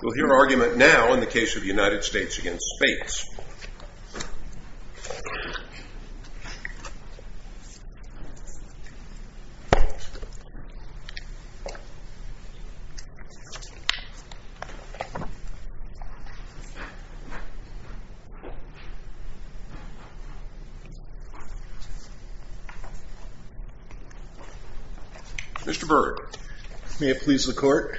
We'll hear argument now in the case of the United States v. Spates. Mr. Berg.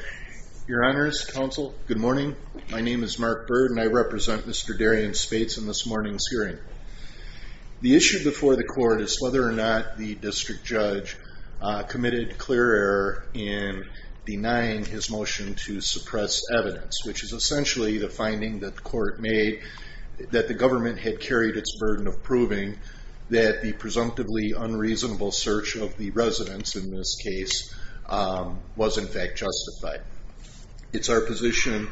Your honors, counsel, good morning. My name is Mark Berg and I represent Mr. Darrien Spates in this morning's hearing. The issue before the court is whether or not the district judge committed clear error in denying his motion to suppress evidence, which is essentially the finding that the court made that the government had carried its burden of proving that the presumptively unreasonable search of the residents in this case was in fact justified. It's our position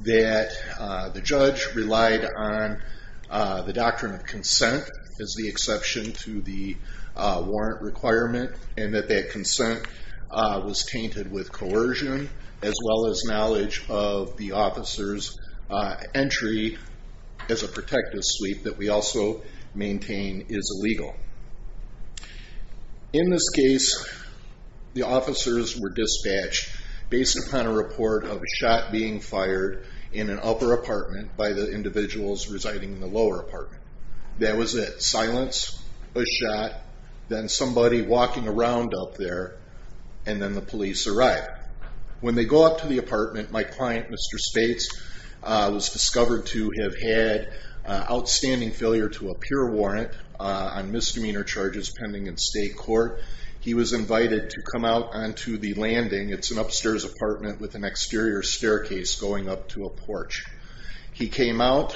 that the judge relied on the doctrine of consent as the exception to the warrant requirement, and that that consent was tainted with coercion, as well as knowledge of the officer's entry as a protective sweep that we also maintain is illegal. In this case, the officers were dispatched based upon a report of a shot being fired in an upper apartment by the individuals residing in the lower apartment. That was it. Silence, a shot, then somebody walking around up there, and then the police arrived. When they go up to the apartment, my client, Mr. Spates, was discovered to have had outstanding failure to appear warrant on misdemeanor charges pending in state court. He was invited to come out onto the landing. It's an upstairs apartment with an exterior staircase going up to a porch. He came out.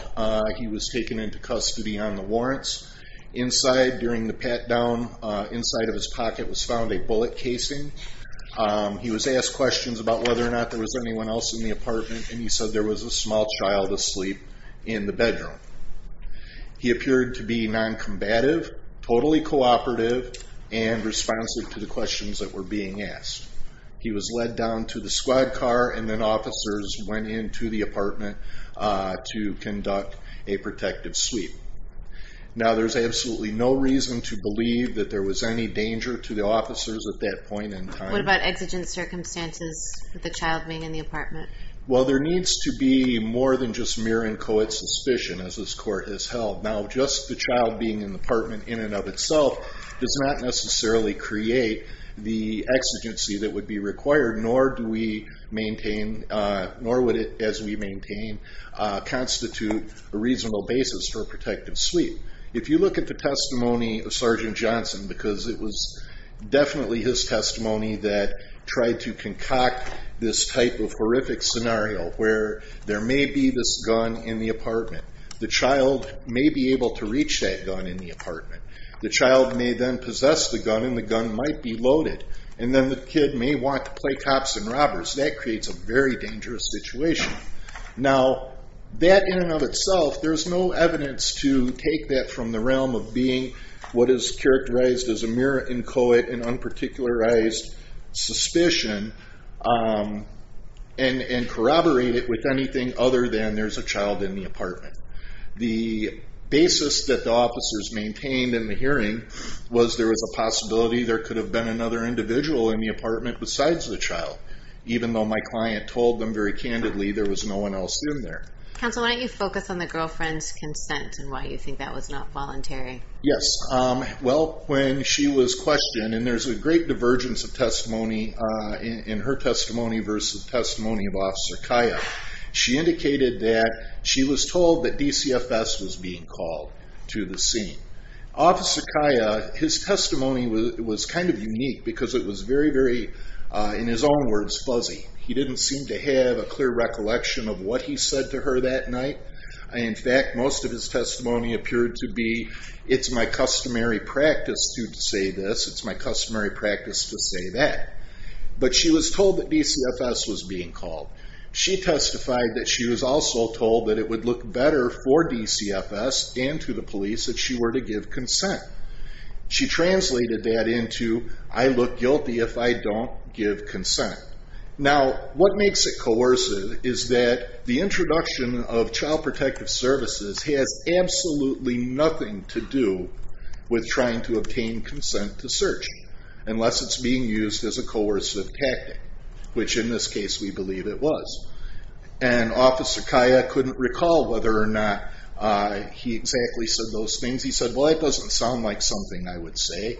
He was taken into custody on the warrants. Inside, during the pat-down, inside of his pocket was found a bullet casing. He was asked questions about whether or not there was anyone else in the apartment, and he said there was a small child asleep in the bedroom. He appeared to be noncombative, totally cooperative, and responsive to the questions that were being asked. He was led down to the squad car, and then officers went into the apartment to conduct a protective sweep. Now, there's absolutely no reason to believe that there was any danger to the officers at that point in time. What about exigent circumstances with the child being in the apartment? Well, there needs to be more than just mere and coed suspicion, as this court has held. Now, just the child being in the apartment in and of itself does not necessarily create the exigency that would be required, nor would it, as we maintain, constitute a reasonable basis for a protective sweep. If you look at the testimony of Sergeant Johnson, because it was definitely his testimony that tried to concoct this type of horrific scenario, where there may be this gun in the apartment. The child may be able to reach that gun in the apartment. The child may then possess the gun, and the gun might be loaded, and then the kid may want to play cops and robbers. That creates a very dangerous situation. Now, that in and of itself, there's no evidence to take that from the realm of being what is characterized as a mere and coed and unparticularized suspicion, and corroborate it with anything other than there's a child in the apartment. The basis that the officers maintained in the hearing was there was a possibility there could have been another individual in the apartment besides the child, even though my client told them very candidly there was no one else in there. Counsel, why don't you focus on the girlfriend's consent and why you think that was not voluntary? Yes. Well, when she was questioned, and there's a great divergence of testimony in her testimony versus testimony of Officer Kaya. She indicated that she was told that DCFS was being called to the scene. Officer Kaya, his testimony was kind of unique because it was very, very, in his own words, fuzzy. He didn't seem to have a clear recollection of what he said to her that night. In fact, most of his testimony appeared to be, it's my customary practice to say this, it's my customary practice to say that. But she was told that DCFS was being called. She testified that she was also told that it would look better for DCFS and to the police if she were to give consent. She translated that into, I look guilty if I don't give consent. Now, what makes it coercive is that the introduction of child protective services has absolutely nothing to do with trying to obtain consent to search, unless it's being used as a coercive tactic, which in this case we believe it was. And Officer Kaya couldn't recall whether or not he exactly said those things. He said, well, that doesn't sound like something I would say.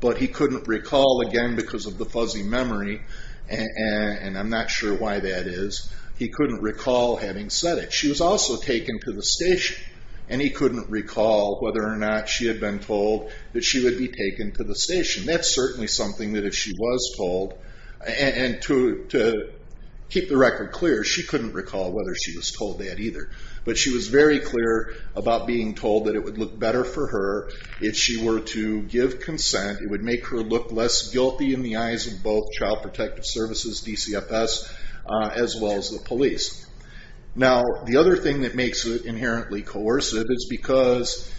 But he couldn't recall, again, because of the fuzzy memory, and I'm not sure why that is. He couldn't recall having said it. But she was also taken to the station, and he couldn't recall whether or not she had been told that she would be taken to the station. That's certainly something that if she was told, and to keep the record clear, she couldn't recall whether she was told that either. But she was very clear about being told that it would look better for her if she were to give consent. It would make her look less guilty in the eyes of both child protective services, DCFS, as well as the police. Now, the other thing that makes it inherently coercive is because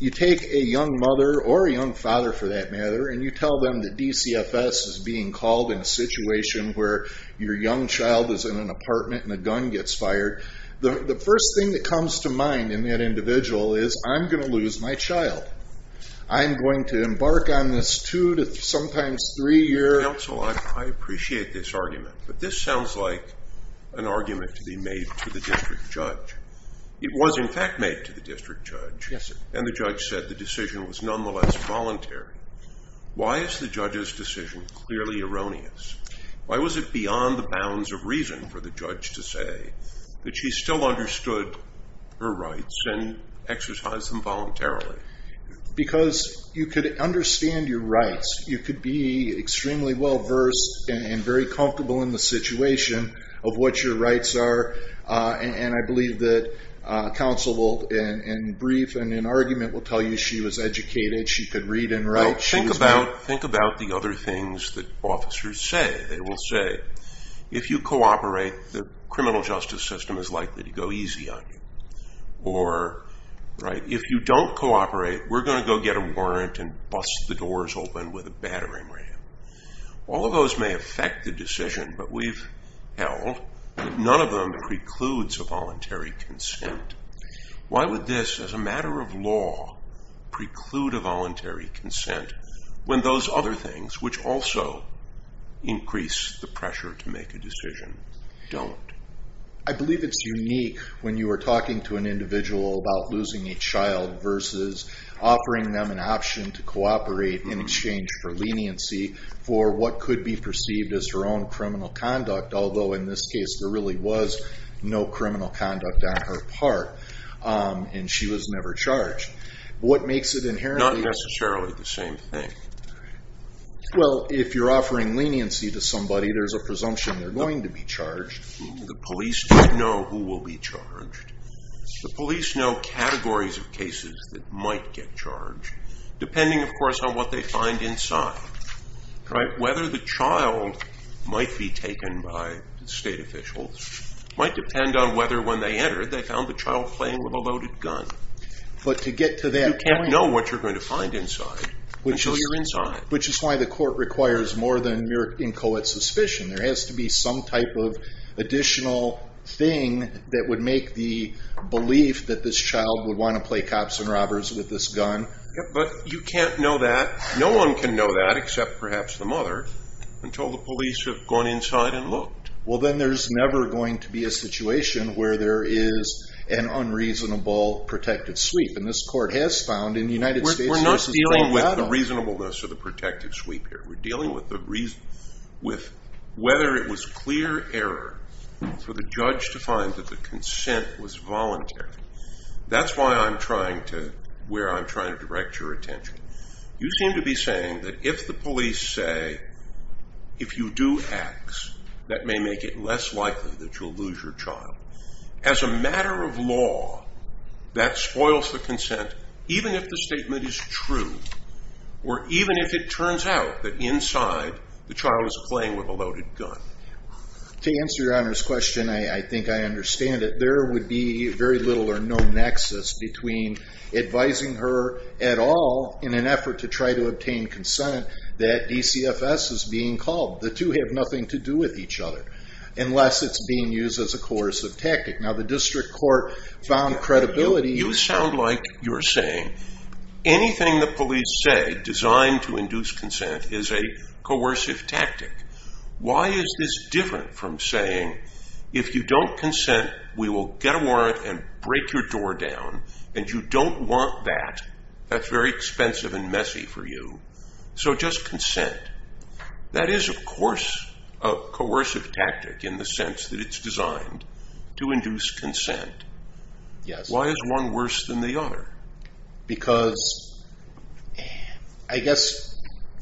you take a young mother, or a young father for that matter, and you tell them that DCFS is being called in a situation where your young child is in an apartment and a gun gets fired. The first thing that comes to mind in that individual is, I'm going to lose my child. I'm going to embark on this two to sometimes three-year- to be made to the district judge. It was in fact made to the district judge, and the judge said the decision was nonetheless voluntary. Why is the judge's decision clearly erroneous? Why was it beyond the bounds of reason for the judge to say that she still understood her rights and exercised them voluntarily? Because you could understand your rights. You could be extremely well-versed and very comfortable in the situation of what your rights are, and I believe that counsel will, in brief and in argument, will tell you she was educated. She could read and write. Think about the other things that officers say. They will say, if you cooperate, the criminal justice system is likely to go easy on you. If you don't cooperate, we're going to go get a warrant and bust the doors open with a battering ram. All of those may affect the decision, but we've held none of them precludes a voluntary consent. Why would this, as a matter of law, preclude a voluntary consent when those other things, which also increase the pressure to make a decision, don't? I believe it's unique when you are talking to an individual about losing a child versus offering them an option to cooperate in exchange for leniency for what could be perceived as her own criminal conduct, although in this case there really was no criminal conduct on her part, and she was never charged. Not necessarily the same thing. Well, if you're offering leniency to somebody, there's a presumption they're going to be charged. The police don't know who will be charged. The police know categories of cases that might get charged, depending, of course, on what they find inside. Whether the child might be taken by state officials might depend on whether, when they enter, they found the child playing with a loaded gun. But to get to that point— You can't know what you're going to find inside until you're inside. Which is why the court requires more than mere inchoate suspicion. There has to be some type of additional thing that would make the belief that this child would want to play cops and robbers with this gun. But you can't know that. No one can know that, except perhaps the mother, until the police have gone inside and looked. Well, then there's never going to be a situation where there is an unreasonable protective sweep. And this court has found in the United States versus Colorado— We're not dealing with the reasonableness of the protective sweep here. We're dealing with whether it was clear error for the judge to find that the consent was voluntary. That's where I'm trying to direct your attention. You seem to be saying that if the police say, if you do X, that may make it less likely that you'll lose your child. As a matter of law, that spoils the consent, even if the statement is true, or even if it turns out that inside the child is playing with a loaded gun. To answer your Honor's question, I think I understand it. There would be very little or no nexus between advising her at all in an effort to try to obtain consent that DCFS is being called. The two have nothing to do with each other, unless it's being used as a coercive tactic. Now, the district court found credibility— You sound like you're saying anything the police say designed to induce consent is a coercive tactic. Why is this different from saying, if you don't consent, we will get a warrant and break your door down, and you don't want that? That's very expensive and messy for you. So just consent. That is, of course, a coercive tactic in the sense that it's designed to induce consent. Yes. Why is one worse than the other? Because, I guess,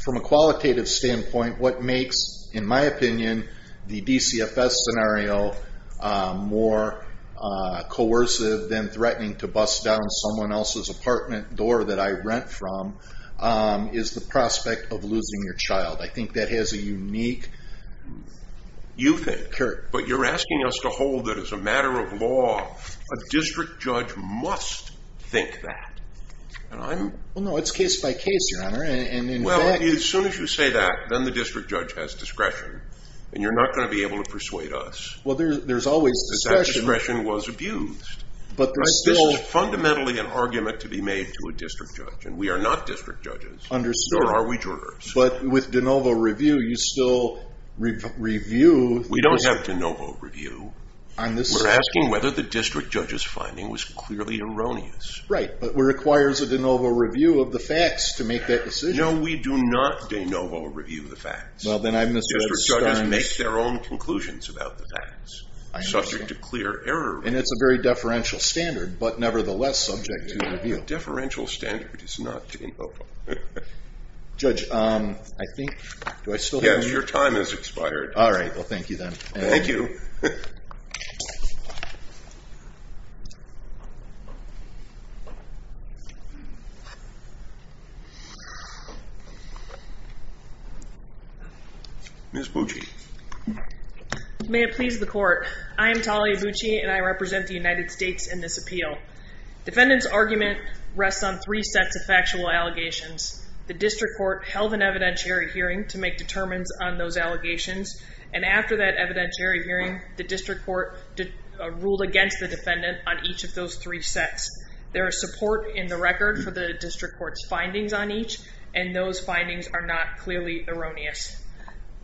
from a qualitative standpoint, what makes, in my opinion, the DCFS scenario more coercive than threatening to bust down someone else's apartment door that I rent from is the prospect of losing your child. I think that has a unique— A district judge must think that. Well, no, it's case by case, Your Honor. Well, as soon as you say that, then the district judge has discretion, and you're not going to be able to persuade us. Well, there's always discretion. That discretion was abused. But there's still— This is fundamentally an argument to be made to a district judge, and we are not district judges. Understood. Nor are we jurors. But with de novo review, you still review— We don't have de novo review. We're asking whether the district judge's finding was clearly erroneous. Right, but it requires a de novo review of the facts to make that decision. No, we do not de novo review the facts. Well, then I misread the terms. District judges make their own conclusions about the facts, subject to clear error review. And it's a very deferential standard, but nevertheless subject to review. A deferential standard is not de novo. Judge, I think—do I still have any— Yes, your time has expired. All right. Well, thank you, then. Thank you. Ms. Bucci. May it please the Court, I am Talia Bucci, and I represent the United States in this appeal. Defendant's argument rests on three sets of factual allegations. The district court held an evidentiary hearing to make determinants on those allegations, and after that evidentiary hearing, the district court ruled against the defendant on each of those three sets. There is support in the record for the district court's findings on each, and those findings are not clearly erroneous.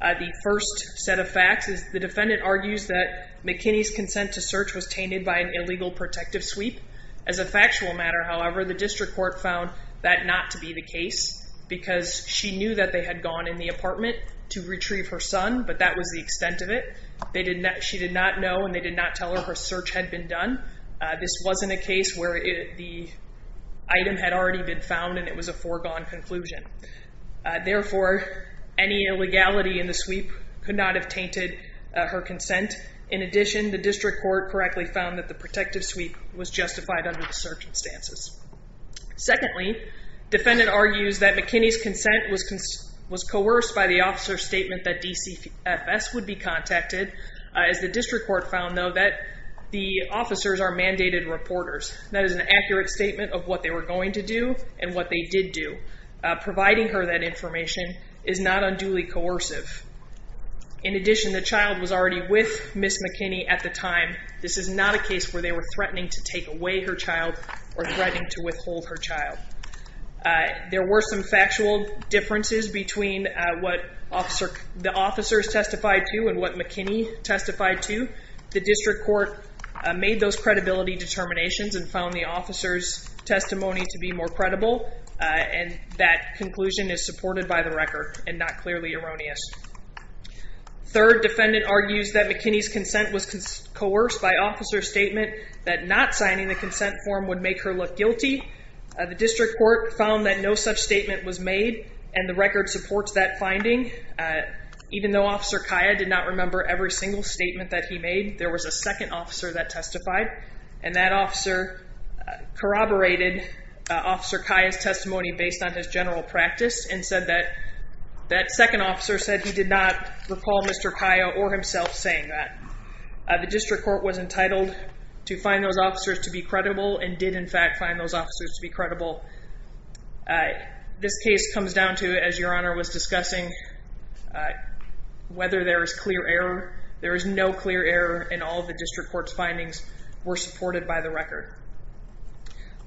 The first set of facts is the defendant argues that McKinney's consent to search was tainted by an illegal protective sweep. As a factual matter, however, the district court found that not to be the case because she knew that they had gone in the apartment to retrieve her son, but that was the extent of it. She did not know and they did not tell her her search had been done. This wasn't a case where the item had already been found and it was a foregone conclusion. Therefore, any illegality in the sweep could not have tainted her consent. In addition, the district court correctly found that the protective sweep was justified under the circumstances. Secondly, defendant argues that McKinney's consent was coerced by the officer's statement that DCFS would be contacted. As the district court found, though, that the officers are mandated reporters. That is an accurate statement of what they were going to do and what they did do. Providing her that information is not unduly coercive. In addition, the child was already with Ms. McKinney at the time. This is not a case where they were threatening to take away her child or threatening to withhold her child. There were some factual differences between what the officers testified to and what McKinney testified to. The district court made those credibility determinations and found the officer's testimony to be more credible. And that conclusion is supported by the record and not clearly erroneous. Third, defendant argues that McKinney's consent was coerced by officer's statement that not signing the consent form would make her look guilty. The district court found that no such statement was made and the record supports that finding. Even though Officer Kaya did not remember every single statement that he made, there was a second officer that testified. And that officer corroborated Officer Kaya's testimony based on his general practice and said that that second officer said he did not recall Mr. Kaya or himself saying that. The district court was entitled to find those officers to be credible and did in fact find those officers to be credible. This case comes down to, as Your Honor was discussing, whether there is clear error. There is no clear error and all of the district court's findings were supported by the record.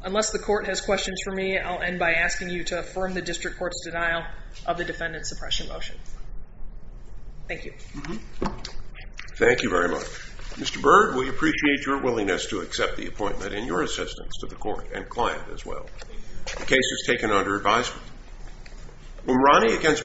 Unless the court has questions for me, I'll end by asking you to affirm the district court's denial of the defendant's suppression motion. Thank you. Thank you very much. Mr. Byrd, we appreciate your willingness to accept the appointment and your assistance to the court and client as well. The case is taken under advisement.